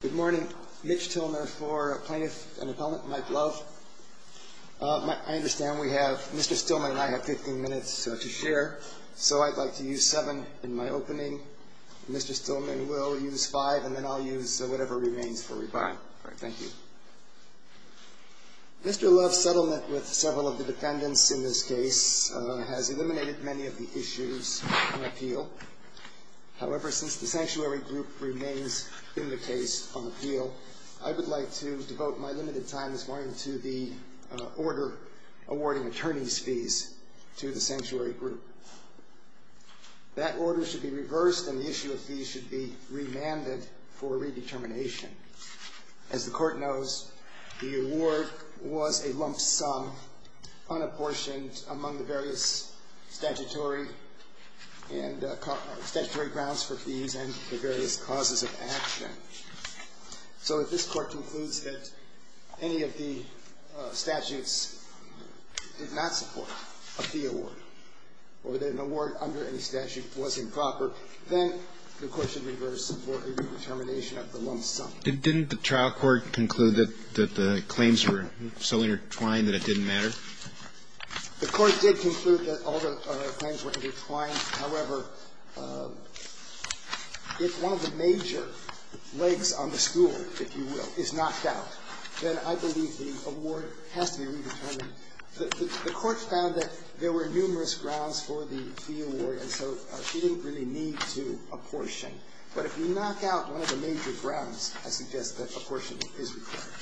Good morning. Mitch Tilner for Plaintiff and Appellant Mike Love. I understand Mr. Stillman and I have 15 minutes to share, so I'd like to use seven in my opening. Mr. Stillman will use five, and then I'll use whatever remains for rebuttal. Thank you. Mr. Love's settlement with several of the defendants in this case has eliminated many of the issues on appeal. However, since the Sanctuary Group remains in the case on appeal, I would like to devote my limited time this morning to the order awarding attorney's fees to the Sanctuary Group. That order should be reversed and the issue of fees should be remanded for redetermination. As the Court knows, the award was a lump sum unapportioned among the various statutory grounds for fees and the various causes of action. So if this Court concludes that any of the statutes did not support a fee award or that an award under any statute was improper, then the Court should reverse for a redetermination of the lump sum. Didn't the trial court conclude that the claims were so intertwined that it didn't matter? The Court did conclude that all the claims were intertwined. However, if one of the major legs on the stool, if you will, is knocked out, then I believe the award has to be redetermined. The Court found that there were numerous grounds for the fee award, and so a fee didn't really need to apportion. But if you knock out one of the major grounds, I suggest that apportionment is required.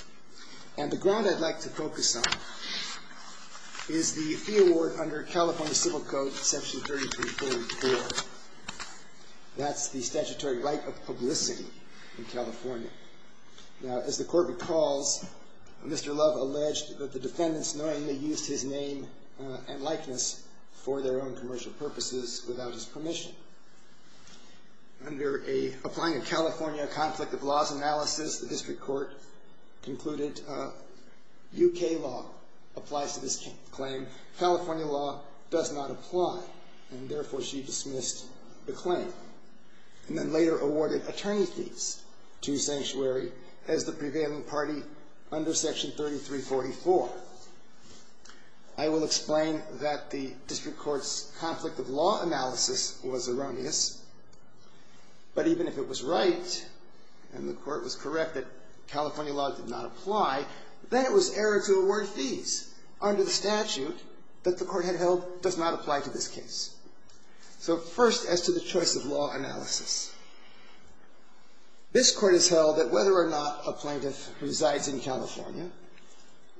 And the ground I'd like to focus on is the fee award under California Civil Code, Section 3344. That's the statutory right of publicity in California. Now, as the Court recalls, Mr. Love alleged that the defendants knowingly used his name and likeness for their own commercial purposes without his permission. Under an Applying a California Conflict of Laws analysis, the district court concluded UK law applies to this claim. California law does not apply, and therefore she dismissed the claim and then later awarded attorney fees to sanctuary as the prevailing party under Section 3344. I will explain that the district court's conflict of law analysis was erroneous, but even if it was right and the Court was correct that California law did not apply, then it was error to award fees under the statute that the Court had held does not apply to this case. So first, as to the choice of law analysis. This Court has held that whether or not a plaintiff resides in California,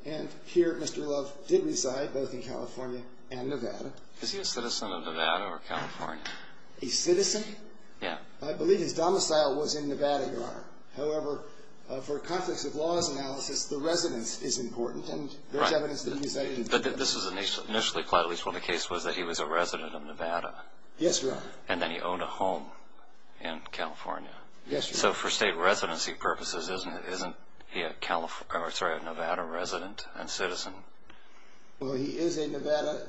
and here Mr. Love did reside both in California and Nevada. Is he a citizen of Nevada or California? A citizen? Yeah. I believe his domicile was in Nevada, Your Honor. However, for a conflict of laws analysis, the residence is important, and there's evidence that he resided in Nevada. But this was initially, at least when the case was, that he was a resident of Nevada. Yes, Your Honor. And then he owned a home in California. Yes, Your Honor. So for state residency purposes, isn't he a Nevada resident and citizen? Well, he is a Nevada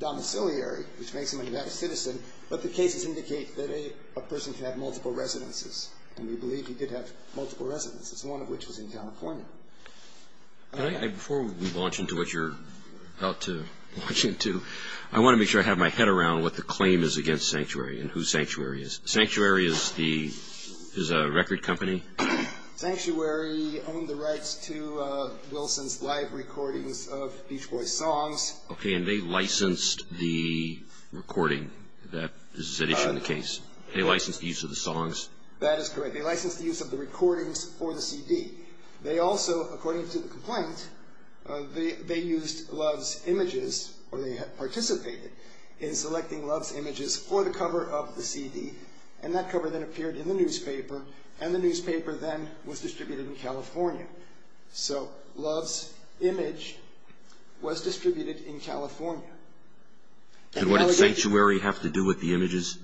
domiciliary, which makes him a Nevada citizen, but the cases indicate that a person can have multiple residences, and we believe he could have multiple residences, one of which was in California. Before we launch into what you're about to launch into, I want to make sure I have my head around what the claim is against Sanctuary and who Sanctuary is. Sanctuary is a record company? Sanctuary owned the rights to Wilson's live recordings of Beach Boys songs. Okay, and they licensed the recording that is at issue in the case. They licensed the use of the songs? That is correct. They licensed the use of the recordings for the CD. They also, according to the complaint, they used Love's images, or they participated in selecting Love's images for the cover of the CD, and that cover then appeared in the newspaper, and the newspaper then was distributed in California. So Love's image was distributed in California. Did Sanctuary have to do with the images?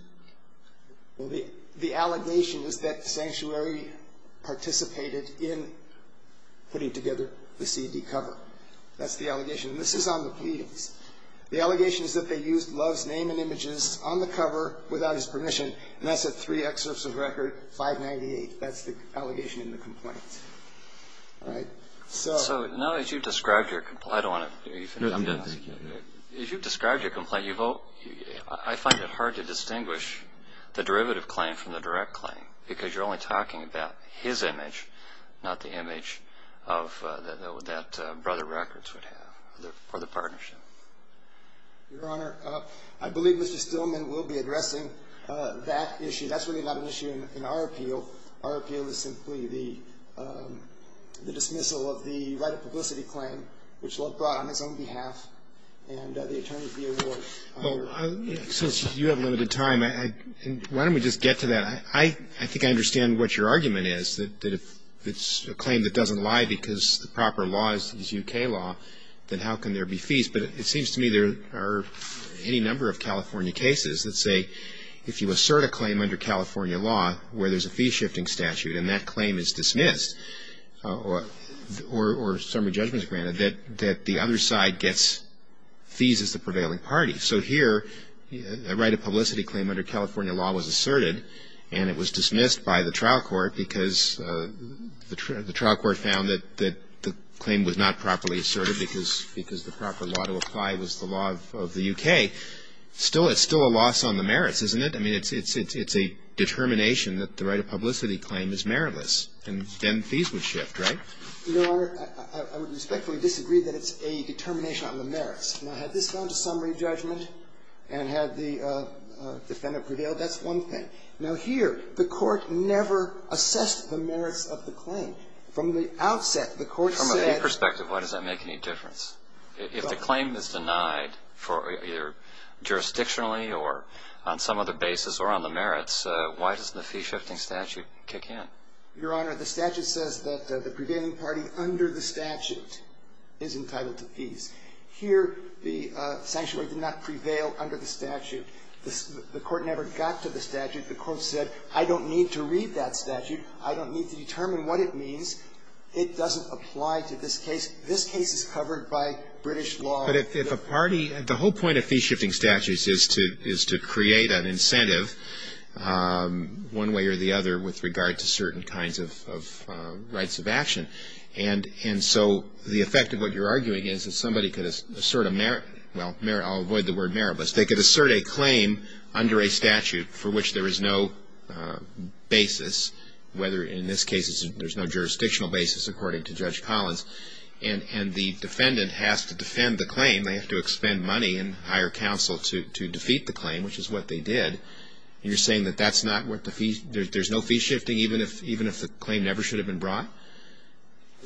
Well, the allegation is that Sanctuary participated in putting together the CD cover. That's the allegation. And this is on the pleadings. The allegation is that they used Love's name and images on the cover without his permission, and that's at three excerpts of record, 598. That's the allegation in the complaint. All right? So now that you've described your complaint, I don't want to do anything else. If you've described your complaint, I find it hard to distinguish the derivative claim from the direct claim because you're only talking about his image, not the image that Brother Records would have, or the partnership. Your Honor, I believe Mr. Stillman will be addressing that issue. That's really not an issue in our appeal. Our appeal is simply the dismissal of the right of publicity claim, which Love brought on his own behalf, and the attorney of the award. Since you have limited time, why don't we just get to that? I think I understand what your argument is, that if it's a claim that doesn't lie because the proper law is U.K. law, then how can there be fees? But it seems to me there are any number of California cases that say if you assert a claim under California law where there's a fee-shifting statute and that claim is dismissed, or summary judgment is granted, that the other side gets fees as the prevailing party. So here, a right of publicity claim under California law was asserted, and it was dismissed by the trial court because the trial court found that the claim was not properly asserted because the proper law to apply was the law of the U.K. It's still a loss on the merits, isn't it? I mean, it's a determination that the right of publicity claim is meritless, and then fees would shift, right? Your Honor, I would respectfully disagree that it's a determination on the merits. Now, had this gone to summary judgment and had the defendant prevailed, that's one thing. Now, here, the Court never assessed the merits of the claim. From the outset, the Court said — From a fee perspective, why does that make any difference? If the claim is denied either jurisdictionally or on some other basis or on the merits, why doesn't the fee-shifting statute kick in? Your Honor, the statute says that the prevailing party under the statute is entitled to fees. Here, the sanctuary did not prevail under the statute. The Court never got to the statute. The Court said, I don't need to read that statute. I don't need to determine what it means. It doesn't apply to this case. This case is covered by British law. But if a party — the whole point of fee-shifting statutes is to create an incentive, one way or the other, with regard to certain kinds of rights of action. And so the effect of what you're arguing is that somebody could assert a — well, I'll avoid the word merit, but they could assert a claim under a statute for which there is no basis, whether in this case there's no jurisdictional basis, according to Judge Collins. And the defendant has to defend the claim. They have to expend money and hire counsel to defeat the claim, which is what they did. And you're saying that that's not what the — there's no fee-shifting, even if the claim never should have been brought?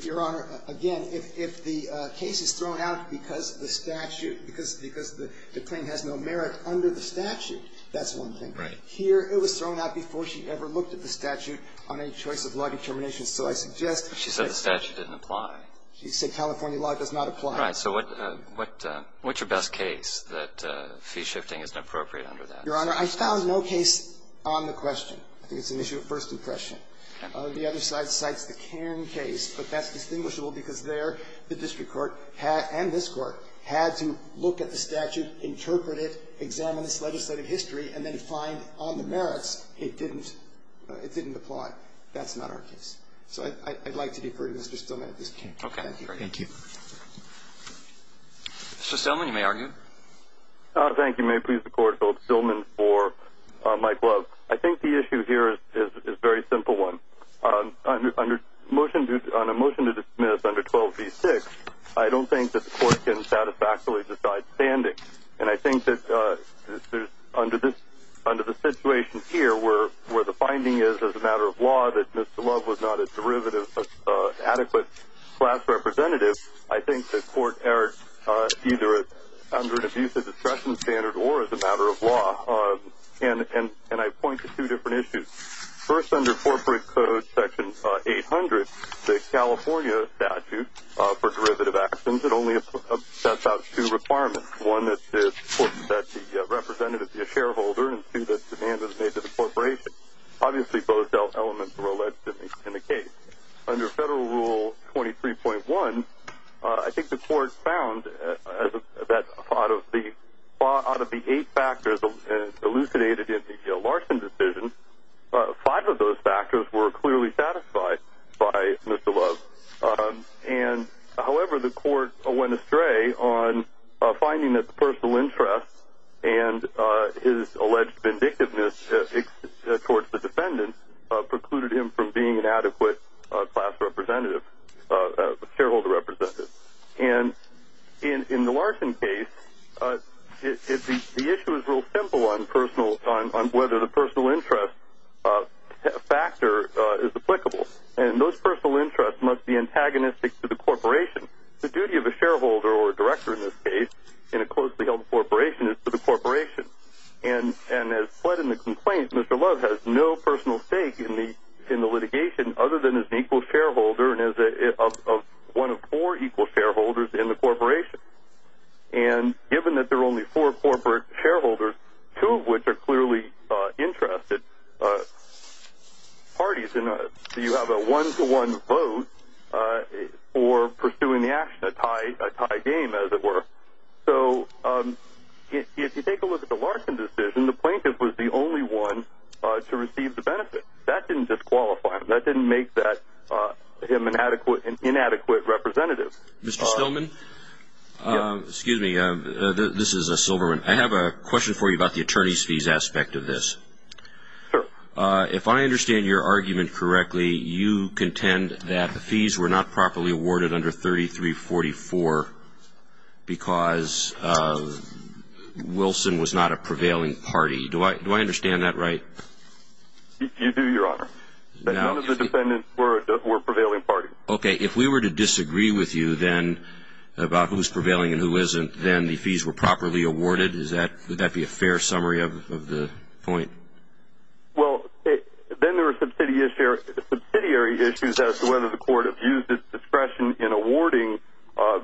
Your Honor, again, if the case is thrown out because of the statute, because the claim has no merit under the statute, that's one thing. Right. Here, it was thrown out before she ever looked at the statute on any choice of law determination. So I suggest — She said the statute didn't apply. She said California law does not apply. Right. So what's your best case that fee-shifting isn't appropriate under that? Your Honor, I found no case on the question. I think it's an issue of first impression. The other side cites the Cairn case, but that's distinguishable because there the district court and this Court had to look at the statute, interpret it, examine its legislative history, and then find on the merits it didn't — it didn't apply. That's not our case. So I'd like to defer to Mr. Stillman at this point. Okay. Thank you. Mr. Stillman, you may argue. Thank you. May it please the Court, Philip Stillman for Mike Love. I think the issue here is a very simple one. On a motion to dismiss under 12b-6, I don't think that the Court can satisfactorily decide standing. And I think that under this — under the situation here where the finding is as a matter of law that Mr. Love was not a derivative, adequate class representative, I think the Court erred either under an abusive discretion standard or as a matter of law. And I point to two different issues. First, under corporate code section 800, the California statute for derivative actions that only sets out two requirements. One, that the representative be a shareholder, and two, that demand is made to the corporation. Obviously, both elements were alleged in the case. Under Federal Rule 23.1, I think the Court found that out of the eight factors elucidated in the Larson decision, five of those factors were clearly satisfied by Mr. Love. And, however, the Court went astray on finding that the personal interest and his alleged vindictiveness towards the defendant precluded him from being an adequate class representative — shareholder representative. And in the Larson case, the issue is real simple on personal — on whether the personal interest factor is applicable. And those personal interests must be antagonistic to the corporation. The duty of a shareholder, or a director in this case, in a closely held corporation, is for the corporation. And as fled in the complaint, Mr. Love has no personal stake in the litigation other than as an equal shareholder and as one of four equal shareholders in the corporation. And given that there are only four corporate shareholders, two of which are clearly interested parties, and you have a one-to-one vote for pursuing the action, a tie game, as it were. So if you take a look at the Larson decision, the plaintiff was the only one to receive the benefit. That didn't disqualify him. That didn't make him an inadequate representative. Mr. Stillman? Excuse me. This is Silverman. I have a question for you about the attorney's fees aspect of this. Sure. If I understand your argument correctly, you contend that the fees were not properly awarded under 3344 because Wilson was not a prevailing party. Do I understand that right? You do, Your Honor. None of the defendants were a prevailing party. Okay. If we were to disagree with you then about who's prevailing and who isn't, then the fees were properly awarded. Would that be a fair summary of the point? Well, then there are subsidiary issues as to whether the court has used its discretion in awarding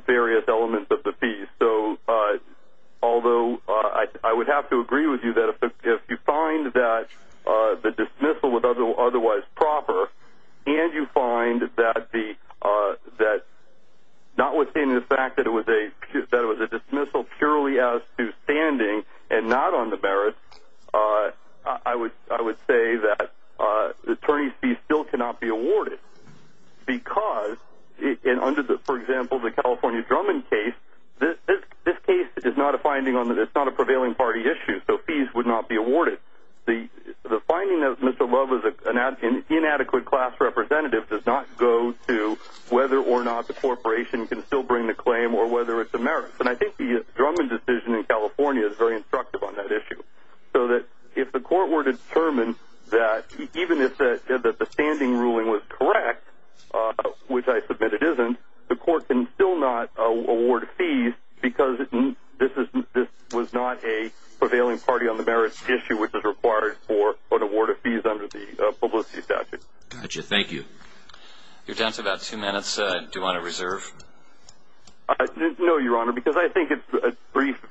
various elements of the fees. So although I would have to agree with you that if you find that the dismissal was otherwise proper and you find that notwithstanding the fact that it was a dismissal purely as to notwithstanding and not on the merits, I would say that the attorney's fees still cannot be awarded because under, for example, the California Drummond case, this case is not a prevailing party issue, so fees would not be awarded. The finding that Mr. Love was an inadequate class representative does not go to whether or not the corporation can still bring the claim or whether it's a merit. And I think the Drummond decision in California is very instructive on that issue so that if the court were to determine that even if the standing ruling was correct, which I submit it isn't, the court can still not award fees because this was not a prevailing party on the merits issue which is required for an award of fees under the publicity statute. Got you. Thank you. Your time is about two minutes. Do you want to reserve? No, Your Honor, because I think it's briefed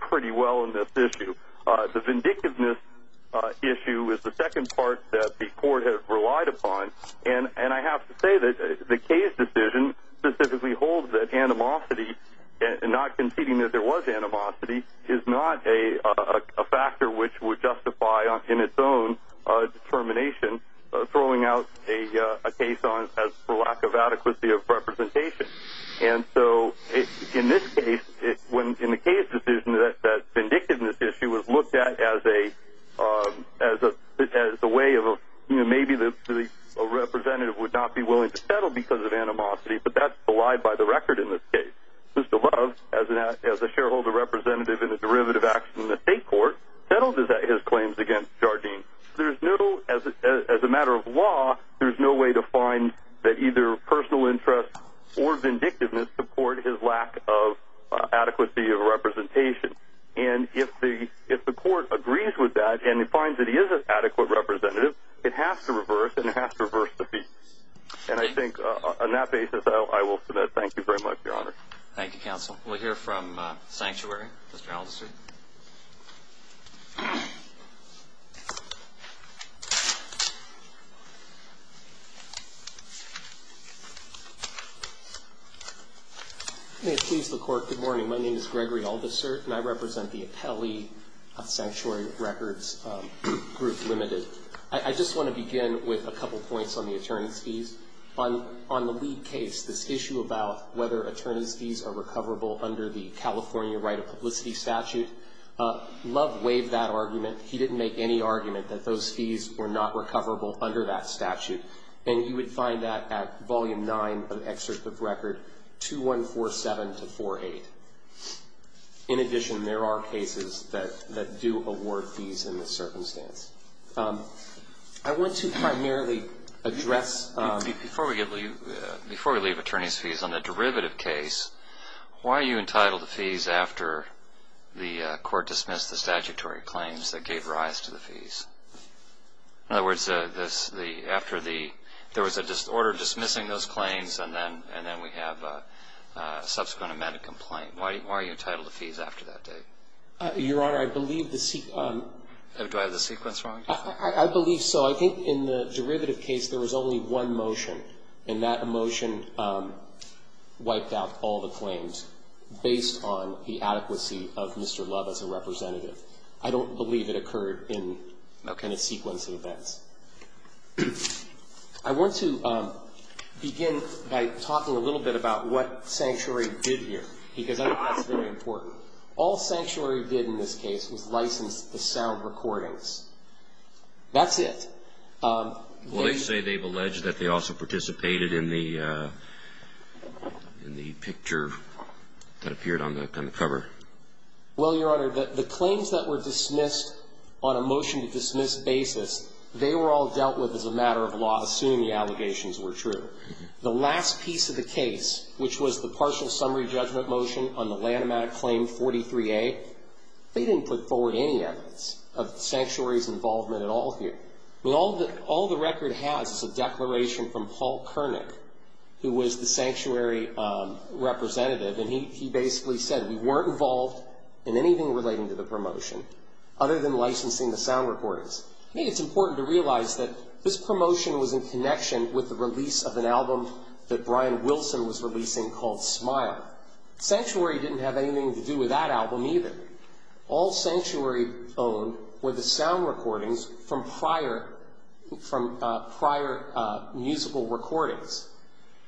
pretty well in this issue. The vindictiveness issue is the second part that the court has relied upon and I have to say that the case decision specifically holds that animosity and not conceding that there was animosity is not a factor which would justify in its own determination throwing out a case on as for lack of adequacy of representation. And so in this case, in the case decision that vindictiveness issue was looked at as a way of maybe a representative would not be willing to settle because of animosity, but that's the lie by the record in this case. Mr. Love, as a shareholder representative in a derivative action in the state court, settled his claims against Jardim. As a matter of law, there's no way to find that either personal interest or vindictiveness support his lack of adequacy of representation. And if the court agrees with that and it finds that he is an adequate representative, it has to reverse and it has to reverse the fee. And I think on that basis, I will submit thank you very much, Your Honor. Thank you, Counsel. We'll hear from Sanctuary. Mr. Alderson. May it please the court, good morning. My name is Gregory Alderson and I represent the appellee of Sanctuary Records Group Limited. I just want to begin with a couple points on the attorney's fees. On the lead case, this issue about whether attorney's fees are recoverable under the California right of publicity statute, Love waived that argument. He didn't make any argument that those fees were not recoverable under that statute. And you would find that at Volume 9 of the excerpt of record 2147-48. In addition, there are cases that do award fees in this circumstance. I want to primarily address the ---- Before we leave attorney's fees, on the derivative case, why are you entitled to fees after the court dismissed the statutory claims that gave rise to the fees? In other words, after the ---- there was an order dismissing those claims and then we have a subsequent amended complaint. Why are you entitled to fees after that date? Your Honor, I believe the ---- Do I have the sequence wrong? I believe so. I think in the derivative case, there was only one motion. And that motion wiped out all the claims based on the adequacy of Mr. Love as a representative. I don't believe it occurred in a kind of sequence of events. I want to begin by talking a little bit about what Sanctuary did here because I think that's very important. All Sanctuary did in this case was license the sound recordings. That's it. Well, they say they've alleged that they also participated in the picture that appeared on the cover. Well, Your Honor, the claims that were dismissed on a motion to dismiss basis, they were all dealt with as a matter of law, assuming the allegations were true. The last piece of the case, which was the partial summary judgment motion on the Lanham Act claim 43A, they didn't put forward any evidence of Sanctuary's involvement at all here. I mean, all the record has is a declaration from Paul Kernick, who was the Sanctuary representative, and he basically said we weren't involved in anything relating to the promotion other than licensing the sound recordings. I think it's important to realize that this promotion was in connection with the release of an album that Brian Wilson was releasing called Smile. Sanctuary didn't have anything to do with that album either. All Sanctuary owned were the sound recordings from prior musical recordings.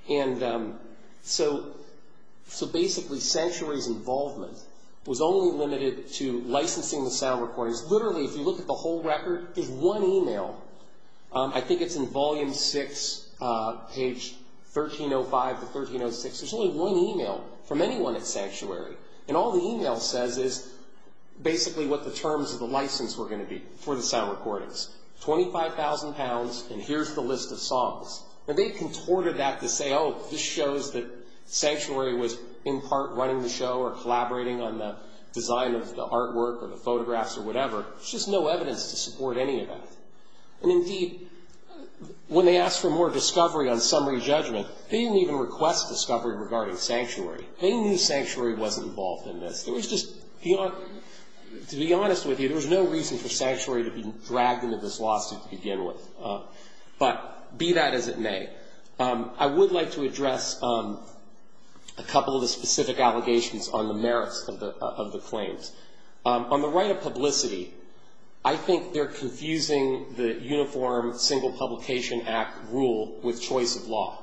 And so basically Sanctuary's involvement was only limited to licensing the sound recordings. Literally, if you look at the whole record, there's one email. I think it's in Volume 6, page 1305 to 1306. There's only one email from anyone at Sanctuary, and all the email says is basically what the terms of the license were going to be for the sound recordings. Twenty-five thousand pounds, and here's the list of songs. Now, they contorted that to say, oh, this shows that Sanctuary was in part running the show or collaborating on the design of the artwork or the photographs or whatever. There's just no evidence to support any of that. And indeed, when they asked for more discovery on summary judgment, they didn't even request discovery regarding Sanctuary. They knew Sanctuary wasn't involved in this. To be honest with you, there was no reason for Sanctuary to be dragged into this lawsuit to begin with. But be that as it may, I would like to address a couple of the specific allegations on the merits of the claims. On the right of publicity, I think they're confusing the Uniform Single Publication Act rule with choice of law.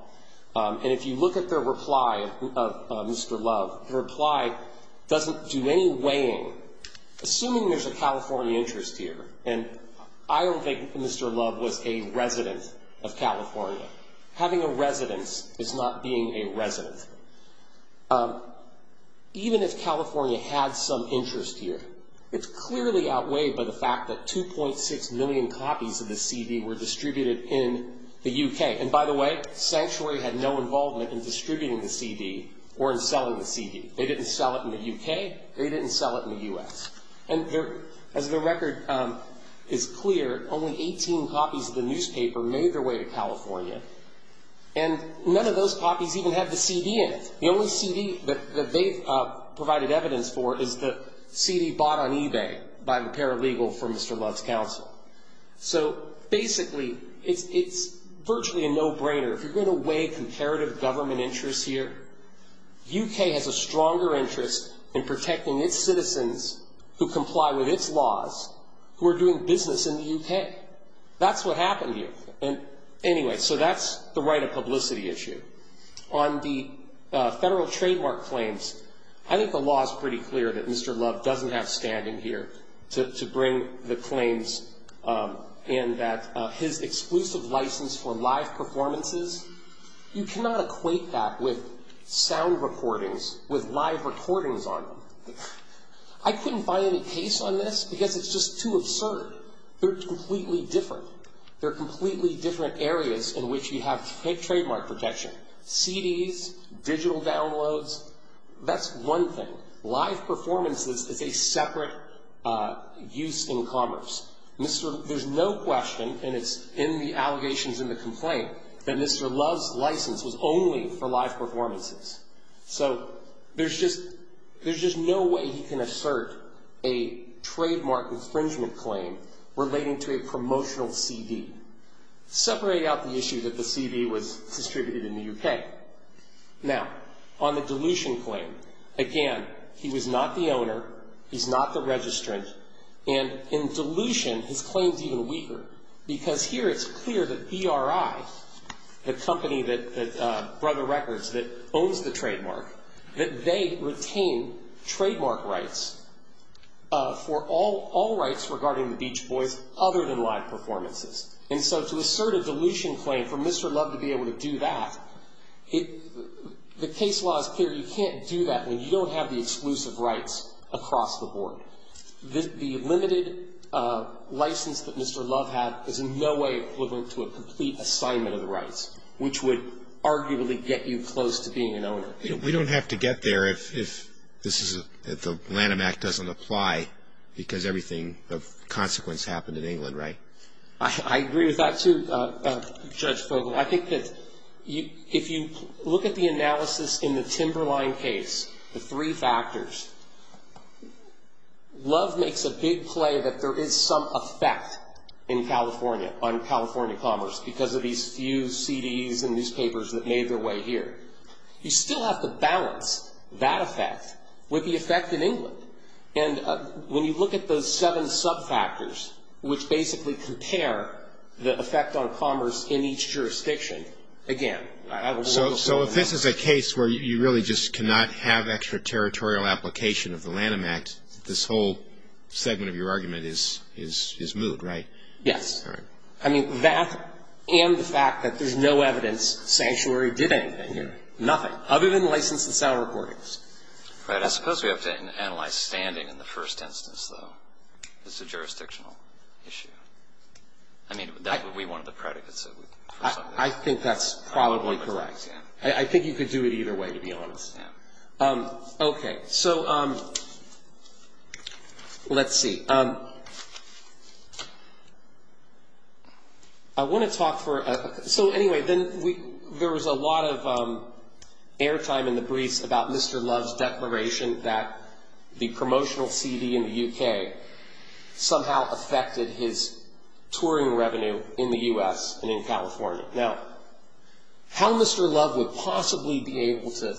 And if you look at their reply of Mr. Love, the reply doesn't do any weighing. Assuming there's a California interest here, and I don't think Mr. Love was a resident of California. Having a residence is not being a resident. Even if California had some interest here, it's clearly outweighed by the fact that 2.6 million copies of the CD were distributed in the U.K. And by the way, Sanctuary had no involvement in distributing the CD or in selling the CD. They didn't sell it in the U.K. They didn't sell it in the U.S. And as the record is clear, only 18 copies of the newspaper made their way to California. And none of those copies even have the CD in it. The only CD that they've provided evidence for is the CD bought on eBay by the paralegal for Mr. Love's counsel. So basically, it's virtually a no-brainer. If you're going to weigh comparative government interests here, U.K. has a stronger interest in protecting its citizens who comply with its laws who are doing business in the U.K. That's what happened here. And anyway, so that's the right of publicity issue. On the federal trademark claims, I think the law is pretty clear that Mr. Love doesn't have standing here to bring the claims in that his exclusive license for live performances, you cannot equate that with sound recordings, with live recordings on them. I couldn't find any case on this because it's just too absurd. They're completely different. They're completely different areas in which you have trademark protection. CDs, digital downloads, that's one thing. Live performances is a separate use in commerce. There's no question, and it's in the allegations in the complaint, that Mr. Love's license was only for live performances. So there's just no way he can assert a trademark infringement claim relating to a promotional CD. Separate out the issue that the CD was distributed in the U.K. Now, on the dilution claim, again, he was not the owner. He's not the registrant. And in dilution, his claim is even weaker because here it's clear that BRI, the company that Brother Records that owns the trademark, that they retain trademark rights for all rights regarding the Beach Boys other than live performances. And so to assert a dilution claim for Mr. Love to be able to do that, the case law is clear. You can't do that when you don't have the exclusive rights across the board. The limited license that Mr. Love had is in no way equivalent to a complete assignment of the rights, which would arguably get you close to being an owner. We don't have to get there if the Lanham Act doesn't apply because everything of consequence happened in England, right? I agree with that too, Judge Fogle. I think that if you look at the analysis in the Timberline case, the three factors, Love makes a big play that there is some effect in California on California commerce because of these few CDs and newspapers that made their way here. You still have to balance that effect with the effect in England. And when you look at those seven sub-factors, which basically compare the effect on commerce in each jurisdiction, again, I don't know. So if this is a case where you really just cannot have extra territorial application of the Lanham Act, this whole segment of your argument is moot, right? Yes. All right. I mean, that and the fact that there's no evidence Sanctuary did anything here, nothing, other than license and sound recordings. I suppose we have to analyze standing in the first instance, though. It's a jurisdictional issue. I mean, that would be one of the predicates. I think that's probably correct. I think you could do it either way, to be honest. Okay. So let's see. I want to talk for – so anyway, there was a lot of airtime in the briefs about Mr. Love's declaration that the promotional CD in the U.K. somehow affected his touring revenue in the U.S. and in California. Now, how Mr. Love would possibly be able to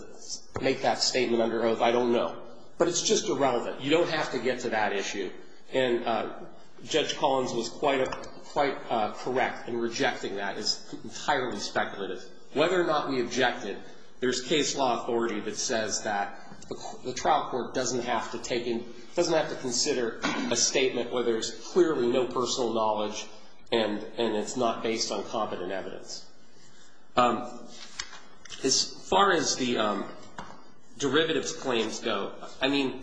make that statement under oath, I don't know. But it's just irrelevant. You don't have to get to that issue. And Judge Collins was quite correct in rejecting that. It's entirely speculative. Whether or not we object it, there's case law authority that says that the trial court doesn't have to consider a statement where there's clearly no personal knowledge and it's not based on competent evidence. As far as the derivatives claims go, I mean,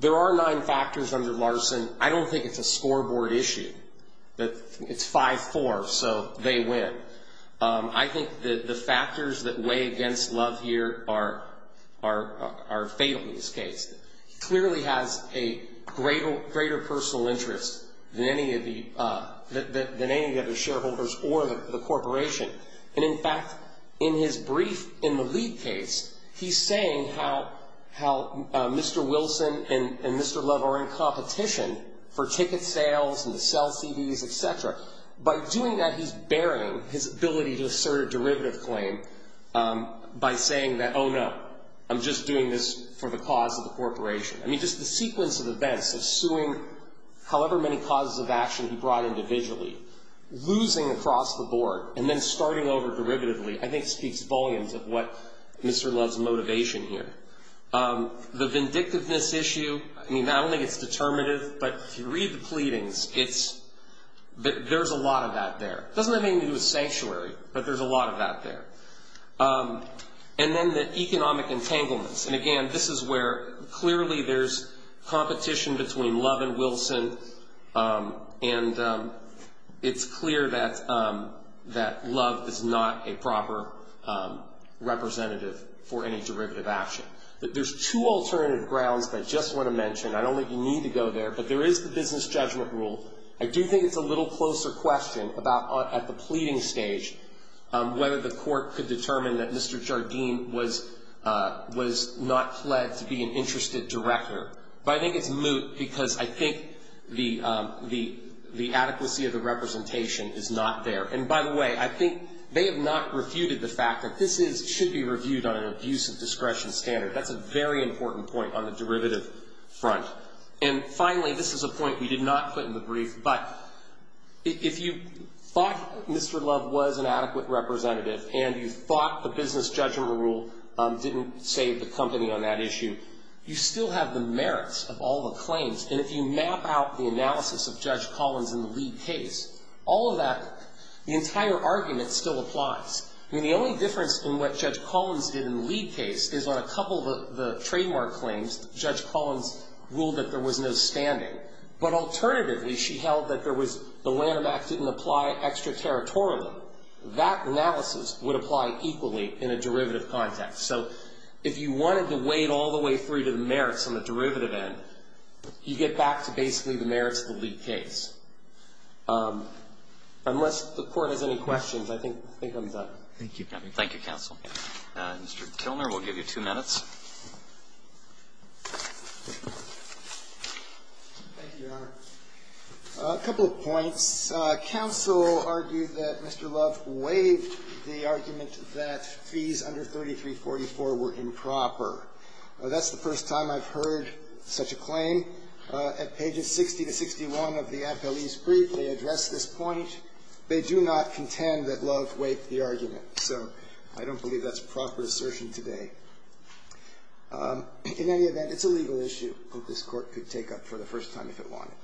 there are nine factors under Larson. I don't think it's a scoreboard issue. It's 5-4, so they win. I think the factors that weigh against Love here are fatal in this case. He clearly has a greater personal interest than any of the shareholders or the corporation. And, in fact, in his brief in the league case, he's saying how Mr. Wilson and Mr. Love are in competition for ticket sales and to sell CDs, et cetera. By doing that, he's burying his ability to assert a derivative claim by saying that, oh, no, I'm just doing this for the cause of the corporation. I mean, just the sequence of events of suing however many causes of action he brought individually, losing across the board, and then starting over derivatively, I think speaks volumes of what Mr. Love's motivation here. The vindictiveness issue, I mean, not only it's determinative, but if you read the pleadings, there's a lot of that there. It doesn't have anything to do with sanctuary, but there's a lot of that there. And then the economic entanglements. And, again, this is where clearly there's competition between Love and Wilson, and it's clear that Love is not a proper representative for any derivative action. There's two alternative grounds that I just want to mention. I don't think you need to go there, but there is the business judgment rule. I do think it's a little closer question about at the pleading stage whether the court could determine that Mr. Jardim was not pled to be an interested director. But I think it's moot because I think the adequacy of the representation is not there. And, by the way, I think they have not refuted the fact that this should be reviewed on an abuse of discretion standard. That's a very important point on the derivative front. And, finally, this is a point we did not put in the brief, but if you thought Mr. Love was an adequate representative, and you thought the business judgment rule didn't save the company on that issue, you still have the merits of all the claims. And if you map out the analysis of Judge Collins in the lead case, all of that, the entire argument still applies. I mean, the only difference in what Judge Collins did in the lead case is on a couple of the trademark claims, Judge Collins ruled that there was no standing. But, alternatively, she held that there was the Lanham Act didn't apply extraterritorially. That analysis would apply equally in a derivative context. So if you wanted to wade all the way through to the merits on the derivative end, you get back to basically the merits of the lead case. Unless the Court has any questions, I think I'm done. Roberts. Thank you. Thank you, counsel. Mr. Tilner, we'll give you two minutes. Thank you, Your Honor. A couple of points. Counsel argued that Mr. Love waived the argument that fees under 3344 were improper. That's the first time I've heard such a claim. Secondly, at pages 60 to 61 of the appellee's brief, they address this point. They do not contend that Love waived the argument. So I don't believe that's proper assertion today. In any event, it's a legal issue that this Court could take up for the first time if it wanted.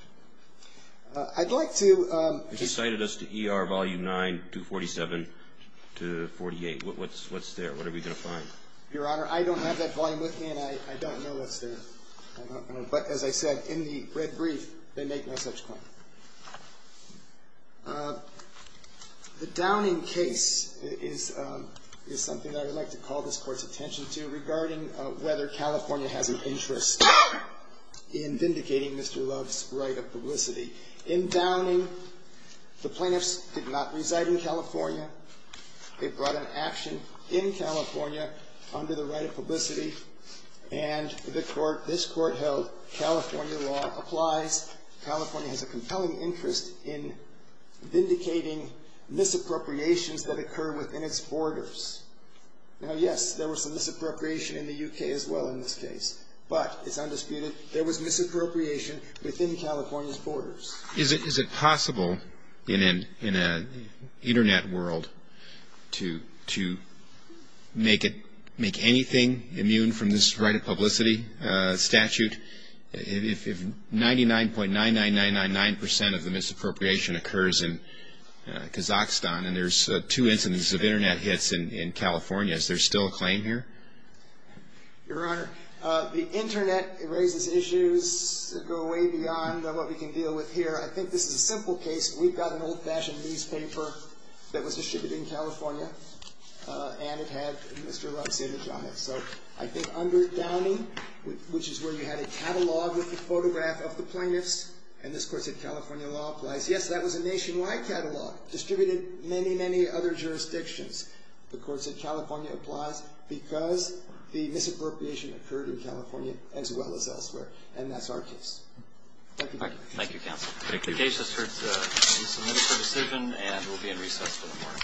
I'd like to just say that as to ER volume 9, 247 to 48, what's there? What are we going to find? Your Honor, I don't have that volume with me, and I don't know what's there. But as I said, in the red brief, they make no such claim. The Downing case is something that I would like to call this Court's attention to regarding whether California has an interest in vindicating Mr. Love's right of publicity. In Downing, the plaintiffs did not reside in California. They brought an action in California under the right of publicity. And this Court held California law applies. California has a compelling interest in vindicating misappropriations that occur within its borders. Now, yes, there was some misappropriation in the U.K. as well in this case, but it's undisputed. There was misappropriation within California's borders. Is it possible in an Internet world to make anything immune from this right of publicity statute? If 99.99999% of the misappropriation occurs in Kazakhstan, and there's two incidents of Internet hits in California, is there still a claim here? Your Honor, the Internet raises issues that go way beyond what we can deal with here. I think this is a simple case. We've got an old-fashioned newspaper that was distributed in California, and it had Mr. Love's image on it. So I think under Downing, which is where you had a catalog with a photograph of the plaintiffs, and this Court said California law applies. Yes, that was a nationwide catalog, distributed in many, many other jurisdictions. The Court said California applies because the misappropriation occurred in California as well as elsewhere, and that's our case. Thank you. Thank you, counsel. Thank you. The case is submitted for decision, and we'll be in recess until tomorrow. All rise for a moment of recess. Thank you.